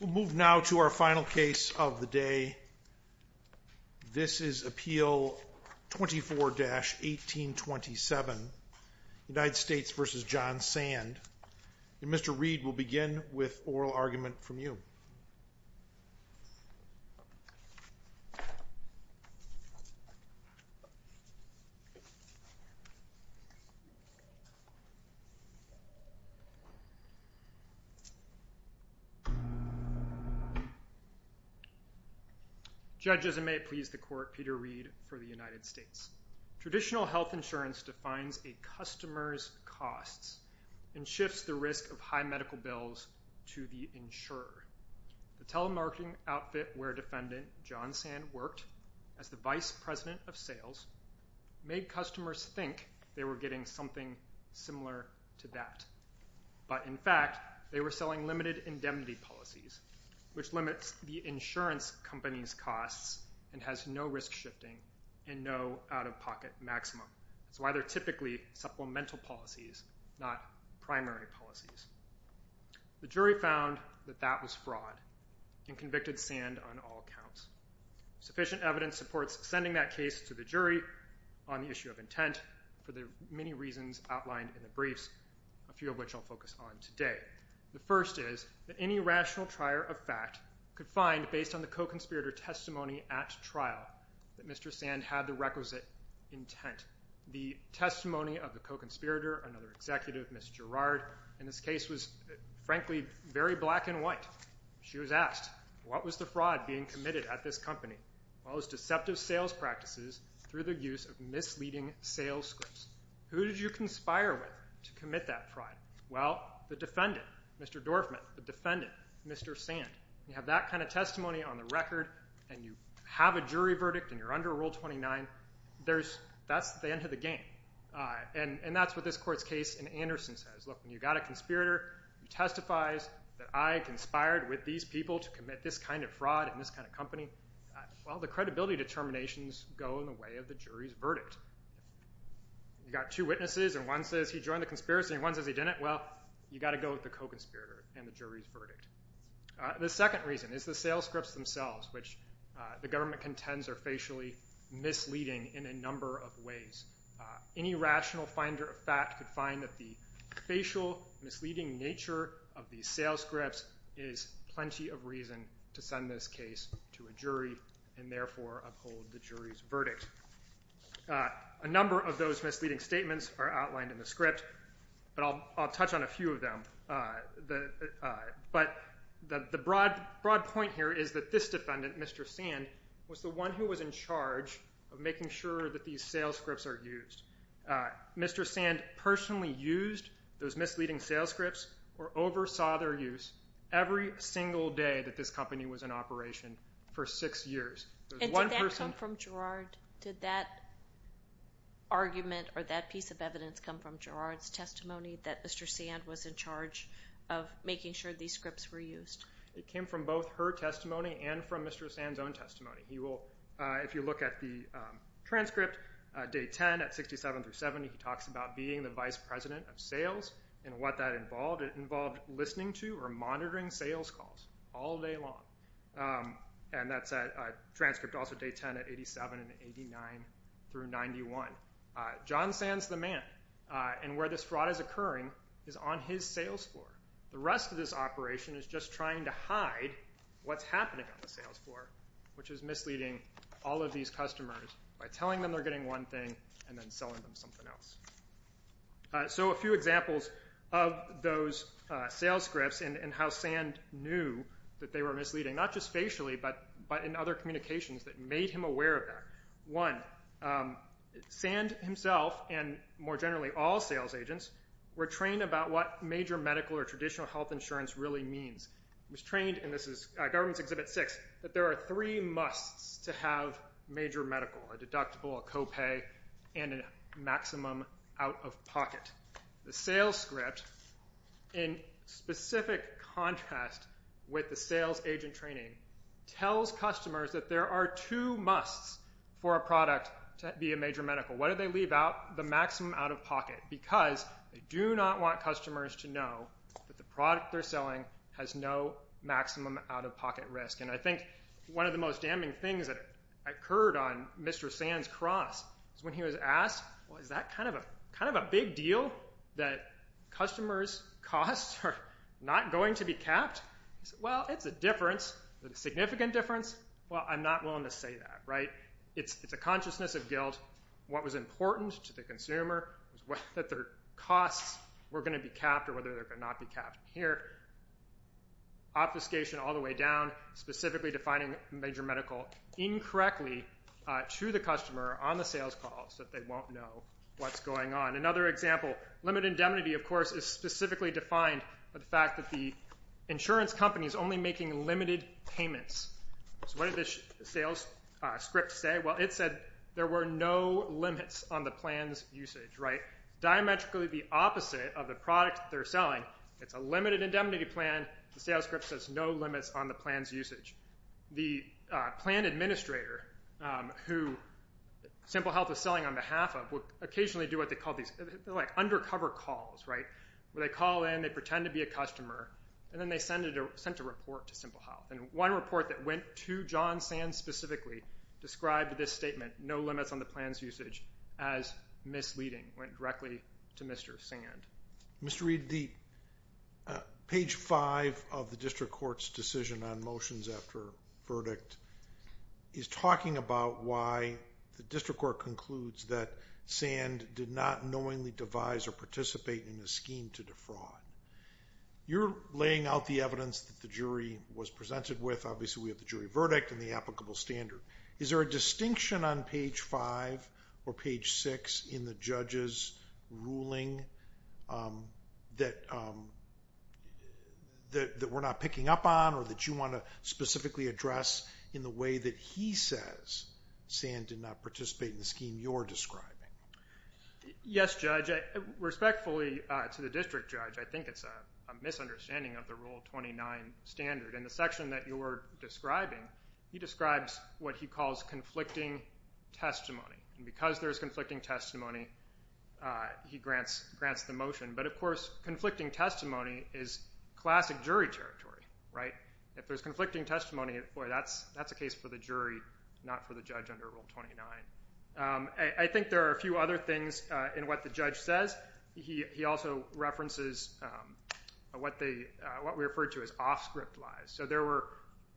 We'll move now to our final case of the day. This is Appeal 24-1827, United States v. John Sand, and Mr. Reed will begin with oral argument from you. Judge, as it may please the Court, Peter Reed for the United States. Traditional health insurance defines a customer's costs and shifts the risk of high medical bills to the insurer. The telemarketing outfit where Defendant John Sand worked as the vice president of sales made customers think they were getting something similar to that, but in fact they were selling limited indemnity policies, which limits the insurance company's costs and has no risk shifting and no out-of-pocket maximum. That's why they're typically supplemental policies, not primary policies. The jury found that that was fraud and convicted Sand on all counts. Sufficient evidence supports sending that case to the jury on the issue of intent for the many reasons outlined in the briefs, a few of which I'll focus on today. The first is that any rational trier of fact could find, based on the co-conspirator testimony at trial, that Mr. Sand had the requisite intent. The testimony of the co-conspirator, another executive, Ms. Gerard, in this case was frankly very black and white. She was asked, what was the fraud being committed at this company? Well, it was deceptive sales practices through the use of misleading sales scripts. Who did you conspire with to commit that fraud? Well, the defendant, Mr. Dorfman, the defendant, Mr. Sand. You have that kind of testimony on the record, and you have a jury verdict, and you're under Rule 29, that's the end of the game. And that's what this court's case in Anderson says. Look, when you've got a conspirator who testifies that I conspired with these people to commit this kind of fraud in this kind of company, well, the credibility determinations go in the way of the jury's verdict. You've got two witnesses, and one says he joined the conspiracy, and one says he didn't. Well, you've got to go with the co-conspirator and the jury's verdict. The second reason is the sales scripts themselves, which the government contends are facially misleading in a number of ways. Any rational finder of fact could find that the facial, misleading nature of these sales scripts is plenty of reason to send this case to a jury, and therefore uphold the jury's A number of those misleading statements are outlined in the script, but I'll touch on a few of them. But the broad point here is that this defendant, Mr. Sand, was the one who was in charge of making sure that these sales scripts are used. Mr. Sand personally used those misleading sales scripts, or oversaw their use, every single day that this company was in operation for six years. And did that come from Girard? Did that argument or that piece of evidence come from Girard's testimony that Mr. Sand was in charge of making sure these scripts were used? It came from both her testimony and from Mr. Sand's own testimony. If you look at the transcript, day 10 at 67 through 70, he talks about being the vice president of sales, and what that involved, it involved listening to or monitoring sales calls all day long. And that's a transcript also day 10 at 87 and 89 through 91. John Sand's the man, and where this fraud is occurring is on his sales floor. The rest of this operation is just trying to hide what's happening on the sales floor, which is misleading all of these customers by telling them they're getting one thing and then selling them something else. So a few examples of those sales scripts and how Sand knew that they were misleading, not just facially, but in other communications that made him aware of that. One, Sand himself, and more generally all sales agents, were trained about what major medical or traditional health insurance really means. He was trained, and this is Government's Exhibit 6, that there are three musts to have major medical, a deductible, a copay, and a maximum out-of-pocket. The sales script, in specific contrast with the sales agent training, tells customers that there are two musts for a product to be a major medical. Why do they leave out the maximum out-of-pocket? Because they do not want customers to know that the product they're selling has no maximum out-of-pocket risk. And I think one of the most damning things that occurred on Mr. Sand's cross is when he was asked, well, is that kind of a big deal that customers' costs are not going to be capped? He said, well, it's a difference, but a significant difference? Well, I'm not willing to say that, right? It's a consciousness of guilt, what was important to the consumer, that their costs were going to be capped or whether they're going to not be capped here. Obfuscation all the way down, specifically defining major medical incorrectly to the customer on the sales calls that they won't know what's going on. Another example, limit indemnity, of course, is specifically defined by the fact that the insurance company is only making limited payments. So what did this sales script say? Well, it said there were no limits on the plan's usage, right? Diametrically the opposite of the product they're selling, it's a limited indemnity plan, the sales script says no limits on the plan's usage. The plan administrator who Simple Health is selling on behalf of will occasionally do what they call these, they're like undercover calls, right, where they call in, they pretend to be a customer, and then they send a report to Simple Health. And one report that went to John Sand specifically described this statement, no limits on the plan's usage, as misleading, went directly to Mr. Sand. Mr. Reed, page five of the district court's decision on motions after verdict is talking about why the district court concludes that Sand did not knowingly devise or participate in a scheme to defraud. You're laying out the evidence that the jury was presented with, obviously we have the jury verdict and the applicable standard. Is there a distinction on page five or page six in the judge's ruling that we're not picking up on or that you want to specifically address in the way that he says Sand did not participate in the scheme you're describing? Yes, Judge. Respectfully to the district judge, I think it's a misunderstanding of the Rule 29 standard. In the section that you're describing, he describes what he calls conflicting testimony. And because there's conflicting testimony, he grants the motion. But of course, conflicting testimony is classic jury territory, right? If there's conflicting testimony, boy, that's a case for the jury, not for the judge under Rule 29. I think there are a few other things in what the judge says. He also references what we refer to as off-script lies. So there were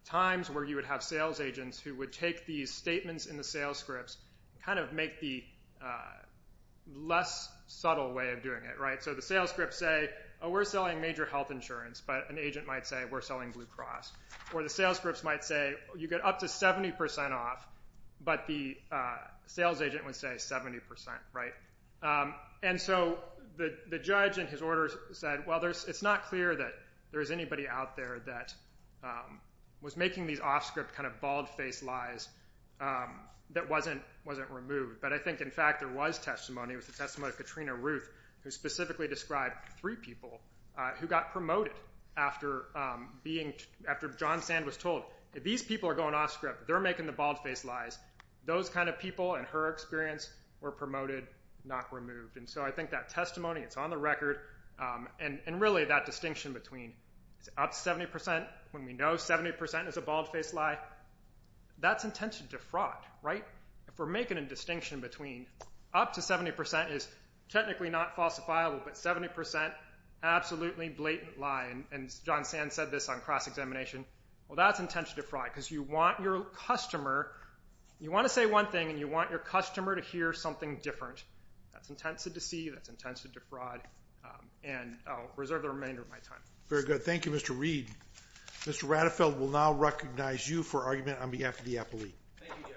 times where you would have sales agents who would take these statements in the sales scripts and kind of make the less subtle way of doing it, right? So the sales scripts say, oh, we're selling major health insurance. But an agent might say, we're selling Blue Cross. Or the sales scripts might say, you get up to 70% off. But the sales agent would say 70%, right? And so the judge in his orders said, well, it's not clear that there's anybody out there that was making these off-script kind of bald-faced lies that wasn't removed. But I think, in fact, there was testimony. It was the testimony of Katrina Ruth, who specifically described three people who got after John Sand was told, these people are going off-script. They're making the bald-faced lies. Those kind of people, in her experience, were promoted, not removed. And so I think that testimony, it's on the record. And really, that distinction between up to 70% when we know 70% is a bald-faced lie, that's intentioned defraud, right? If we're making a distinction between up to 70% is technically not falsifiable, but 70% absolutely blatant lie. And John Sand said this on cross-examination. Well, that's intentioned defraud because you want your customer. You want to say one thing, and you want your customer to hear something different. That's intends to deceive. That's intends to defraud. And I'll reserve the remainder of my time. Very good. Thank you, Mr. Reed. Mr. Radefeld will now recognize you for argument on behalf of the appellee. Thank you, Jerry.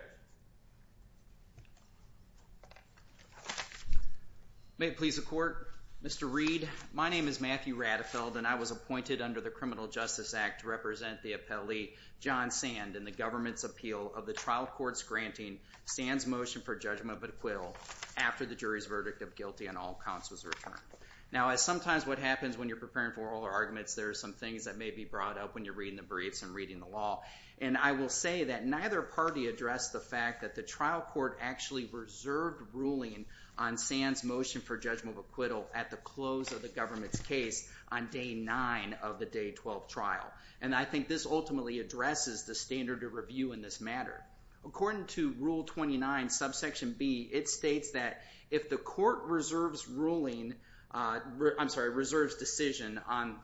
May it please the Court, Mr. Reed, my name is Matthew Radefeld, and I was appointed under the Criminal Justice Act to represent the appellee, John Sand, in the government's appeal of the trial court's granting Sand's motion for judgment of acquittal after the jury's verdict of guilty on all counts was returned. Now, as sometimes what happens when you're preparing for oral arguments, there are some things that may be brought up when you're reading the briefs and reading the law. And I will say that neither party addressed the fact that the trial court actually reserved ruling on Sand's motion for judgment of acquittal at the close of the government's case on day nine of the day 12 trial. And I think this ultimately addresses the standard of review in this matter. According to Rule 29, Subsection B, it states that if the court reserves ruling, I'm sorry, reserves decision on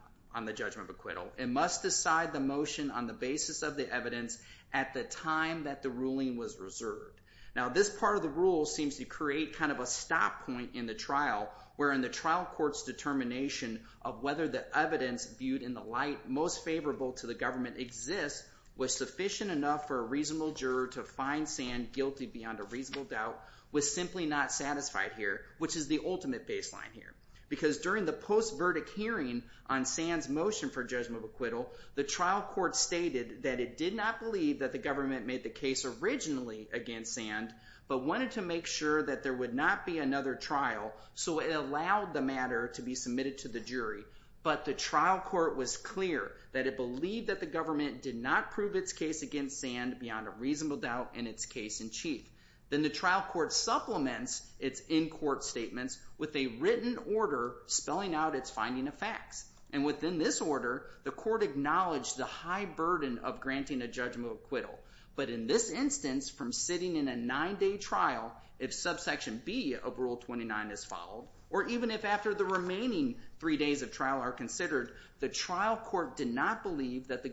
the judgment of acquittal, it must decide the motion on the basis of the evidence at the time that the ruling was reserved. Now, this part of the rule seems to create kind of a stop point in the trial wherein the trial court's determination of whether the evidence viewed in the light most favorable to the government exists was sufficient enough for a reasonable juror to find Sand guilty beyond a reasonable doubt was simply not satisfied here, which is the ultimate baseline here. Because during the post-verdict hearing on Sand's motion for judgment of acquittal, the trial court stated that it did not believe that the government made the case originally against Sand, but wanted to make sure that there would not be another trial, so it allowed the matter to be submitted to the jury. But the trial court was clear that it believed that the government did not prove its case against Sand beyond a reasonable doubt in its case in chief. Then the trial court supplements its in-court statements with a written order spelling out its finding of facts. And within this order, the court acknowledged the high burden of granting a judgment of acquittal. But in this instance, from sitting in a nine-day trial, if subsection B of Rule 29 is followed, or even if after the remaining three days of trial are considered, the trial court did not believe that the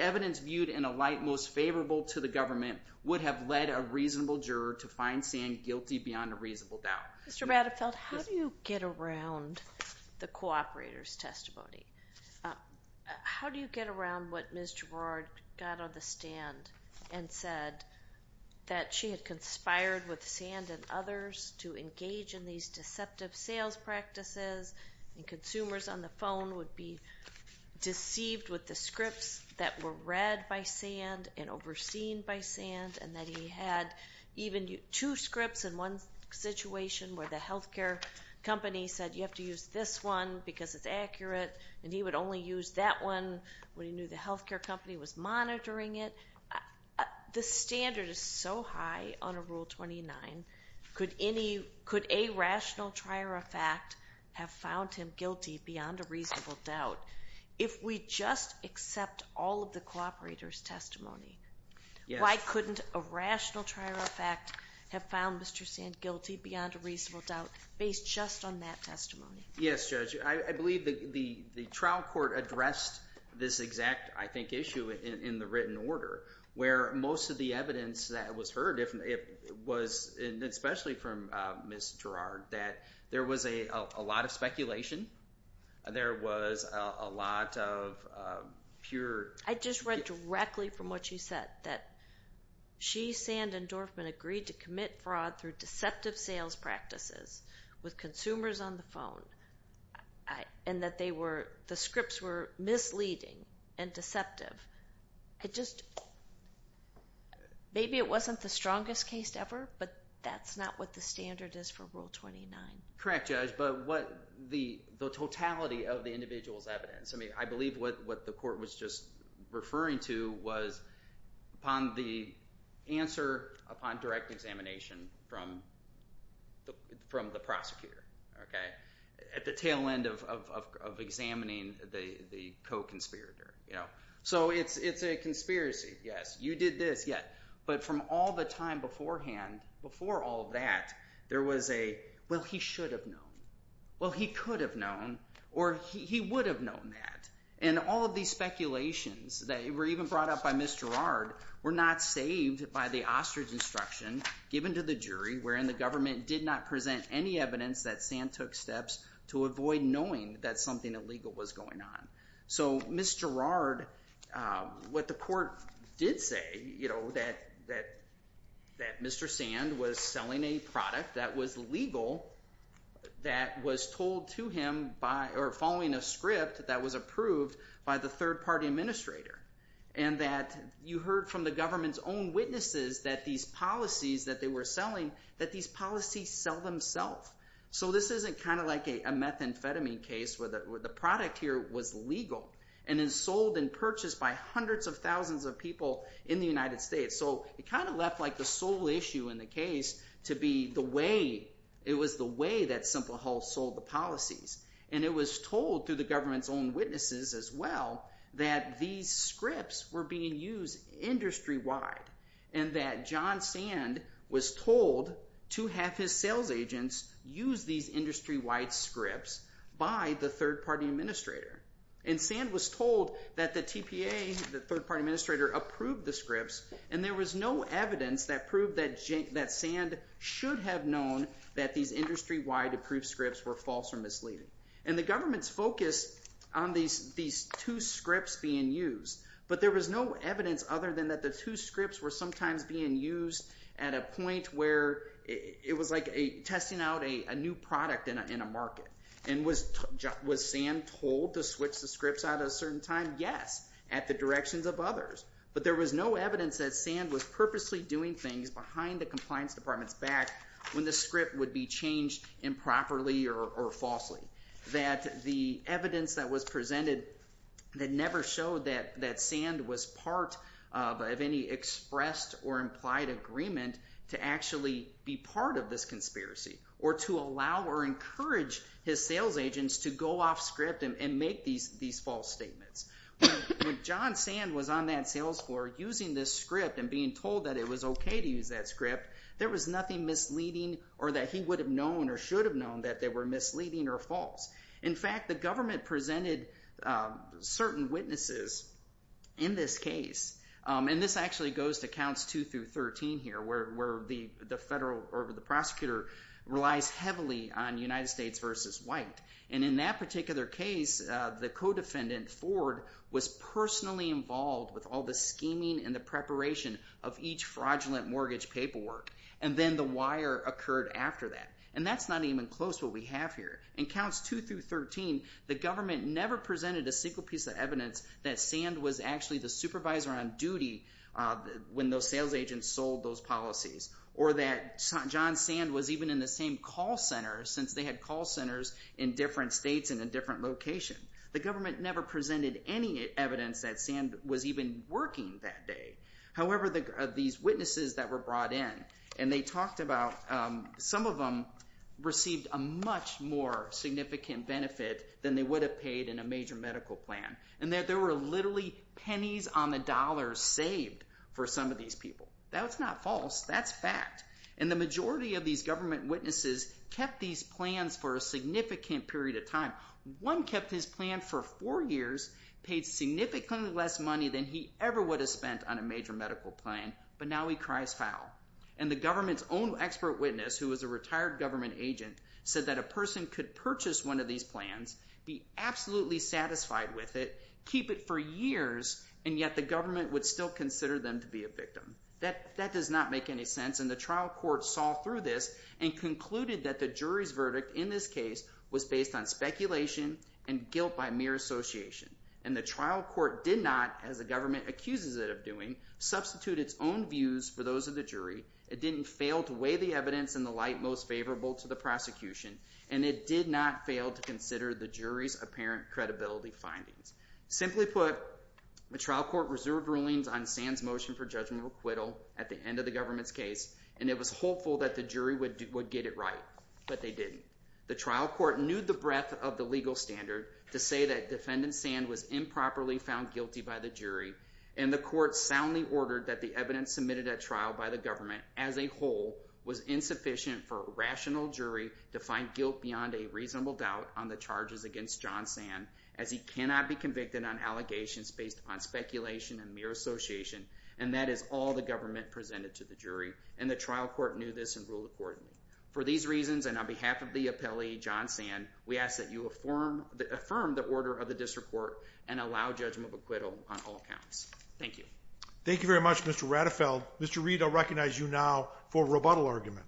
evidence viewed in a light most favorable to the government would have led a reasonable juror to find Sand guilty beyond a reasonable doubt. Mr. Radefeld, how do you get around the cooperator's testimony? How do you get around what Ms. Girard got on the stand and said that she had conspired with Sand and others to engage in these deceptive sales practices, and consumers on the phone would be deceived with the scripts that were read by Sand and overseen by Sand, and that he had even two scripts in one situation where the health care company said, you have to use this one because it's accurate, and he would only use that one when he knew the health care company was monitoring it? The standard is so high on a Rule 29. Could a rational trier of fact have found him guilty beyond a reasonable doubt? If we just accept all of the cooperator's testimony, why couldn't a rational trier of fact have found Mr. Sand guilty beyond a reasonable doubt based just on that testimony? Yes, Judge. I believe the trial court addressed this exact, I think, issue in the written order where most of the evidence that was heard was, especially from Ms. Girard, that there was a lot of speculation. There was a lot of pure... I just read directly from what you said, that she, Sand, and Dorfman agreed to commit fraud through deceptive sales practices with consumers on the phone and that the scripts were misleading and deceptive. Maybe it wasn't the strongest case ever, but that's not what the standard is for Rule 29. Correct, Judge. But the totality of the individual's evidence, I believe what the court was just referring to was the answer upon direct examination from the prosecutor at the tail end of examining the co-conspirator. So it's a conspiracy, yes. You did this, yes. But from all the time beforehand, before all that, there was a, well, he should have known, well, he could have known, or he would have known that. And all of these speculations that were even brought up by Ms. Girard were not saved by the ostrich instruction given to the jury, wherein the government did not present any evidence that Sand took steps to avoid knowing that something illegal was going on. So Ms. Girard, what the court did say, that Mr. Sand was selling a product that was legal that was told to him by, or following a script that was approved by the third-party administrator, and that you heard from the government's own witnesses that these policies that they were selling, that these policies sell themselves. So this isn't kind of like a methamphetamine case where the product here was legal and then sold and purchased by hundreds of thousands of people in the United States. So it kind of left the sole issue in the case to be the way, it was the way that Simple Health sold the policies. And it was told through the government's own witnesses as well that these scripts were being used industry-wide and that John Sand was told to have his sales agents use these industry-wide scripts by the third-party administrator. And Sand was told that the TPA, the third-party administrator, approved the scripts, and there was no evidence that proved that Sand should have known that these industry-wide approved scripts were false or misleading. And the government's focus on these two scripts being used, but there was no evidence other than that the two scripts were sometimes being used at a point where it was like testing out a new product in a market. And was Sand told to switch the scripts at a certain time? Yes, at the directions of others. But there was no evidence that Sand was purposely doing things behind the compliance department's back when the script would be changed improperly or falsely. That the evidence that was presented that never showed that Sand was part of any expressed or implied agreement to actually be part of this conspiracy or to allow or encourage his sales agents to go off script and make these false statements. When John Sand was on that sales floor using this script and being told that it was okay to use that script, there was nothing misleading or that he would have known or should have known that they were misleading or false. In fact, the government presented certain witnesses in this case. And this actually goes to counts 2 through 13 here, where the prosecutor relies heavily on United States v. White. And in that particular case, the co-defendant, Ford, was personally involved with all the scheming and the preparation of each fraudulent mortgage paperwork. And then the wire occurred after that. And that's not even close to what we have here. In counts 2 through 13, the government never presented a single piece of evidence that Sand was actually the supervisor on duty when those sales agents sold those policies. Or that John Sand was even in the same call center since they had call centers in different states and in different locations. The government never presented any evidence that Sand was even working that day. However, these witnesses that were brought in, and they talked about some of them received a much more significant benefit than they would have paid in a major medical plan. And that there were literally pennies on the dollar saved for some of these people. That's not false. That's fact. And the majority of these government witnesses kept these plans for a significant period of time. One kept his plan for four years, paid significantly less money than he ever would have spent on a major medical plan, but now he cries foul. And the government's own expert witness, who was a retired government agent, said that a person could purchase one of these plans, be absolutely satisfied with it, keep it for years, and yet the government would still consider them to be a victim. That does not make any sense. And the trial court saw through this and concluded that the jury's verdict in this case was based on speculation and guilt by mere association. And the trial court did not, as the government accuses it of doing, substitute its own views for those of the jury. It didn't fail to weigh the evidence in the light most favorable to the prosecution. And it did not fail to consider the jury's apparent credibility findings. Simply put, the trial court reserved rulings on Sand's motion for judgmental acquittal at the end of the government's case, and it was hopeful that the jury would get it right. But they didn't. The trial court knew the breadth of the legal standard to say that defendant Sand was improperly found guilty by the jury. And the court soundly ordered that the evidence submitted at trial by the government, as a whole, was insufficient for a rational jury to find guilt beyond a reasonable doubt on the charges against John Sand, as he cannot be convicted on allegations based on speculation and mere association. And that is all the government presented to the jury. And the trial court knew this and ruled accordingly. For these reasons, and on behalf of the appellee, John Sand, we ask that you affirm the order of the district court and allow judgmental acquittal on all counts. Thank you. Thank you very much, Mr. Ratafeld. Mr. Reed, I'll recognize you now for rebuttal argument.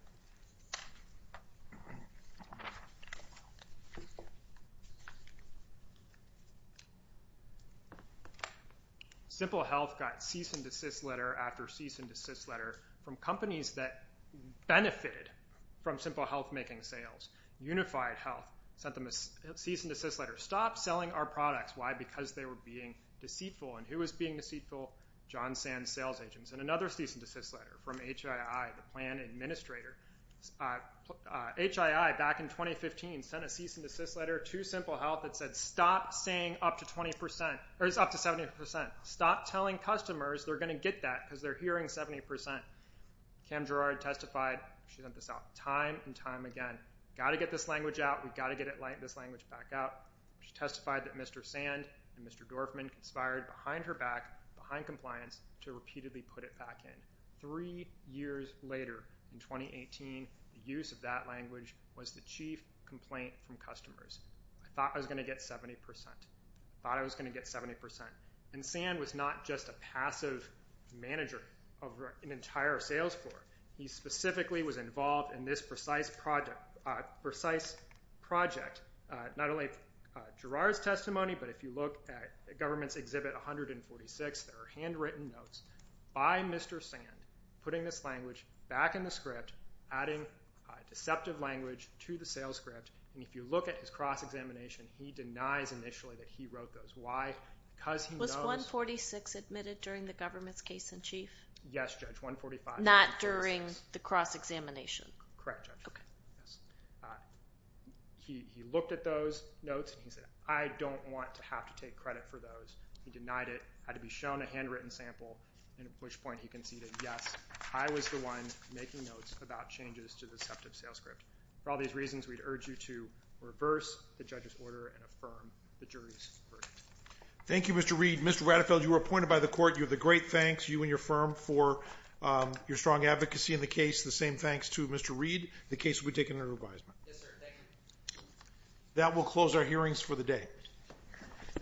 Simple Health got cease and desist letter after cease and desist letter from companies that benefited from Simple Health making sales. Unified Health sent them a cease and desist letter. Stop selling our products. Why? Because they were being deceitful. And who was being deceitful? John Sand's sales agents. And another cease and desist letter from HII, the plan administrator. HII, back in 2015, sent a cease and desist letter to Simple Health that said stop saying up to 70%. Stop telling customers they're going to get that because they're hearing 70%. Cam Gerrard testified. She sent this out time and time again. Got to get this language out. We've got to get this language back out. She testified that Mr. Sand and Mr. Dorfman conspired behind her back, behind compliance, to repeatedly put it back in. Three years later, in 2018, the use of that language was the chief complaint from customers. I thought I was going to get 70%. I thought I was going to get 70%. And Sand was not just a passive manager of an entire sales floor. He specifically was involved in this precise project. Not only Gerrard's testimony, but if you look at Government's Exhibit 146, there are handwritten notes by Mr. Sand putting this language back in the script, adding deceptive language to the sales script. And if you look at his cross-examination, he denies initially that he wrote those. Was 146 admitted during the Government's case in chief? Yes, Judge, 145. Not during the cross-examination? Correct, Judge. He looked at those notes and he said, I don't want to have to take credit for those. He denied it. Had to be shown a handwritten sample, at which point he conceded, yes, I was the one making notes about changes to the deceptive sales script. For all these reasons, we'd urge you to reverse the judge's order and affirm the jury's verdict. Thank you, Mr. Reed. Mr. Rattefeld, you were appointed by the court. You have the great thanks, you and your firm, for your strong advocacy in the case. The same thanks to Mr. Reed. The case will be taken under revision. Yes, sir. Thank you. That will close our hearings for the day.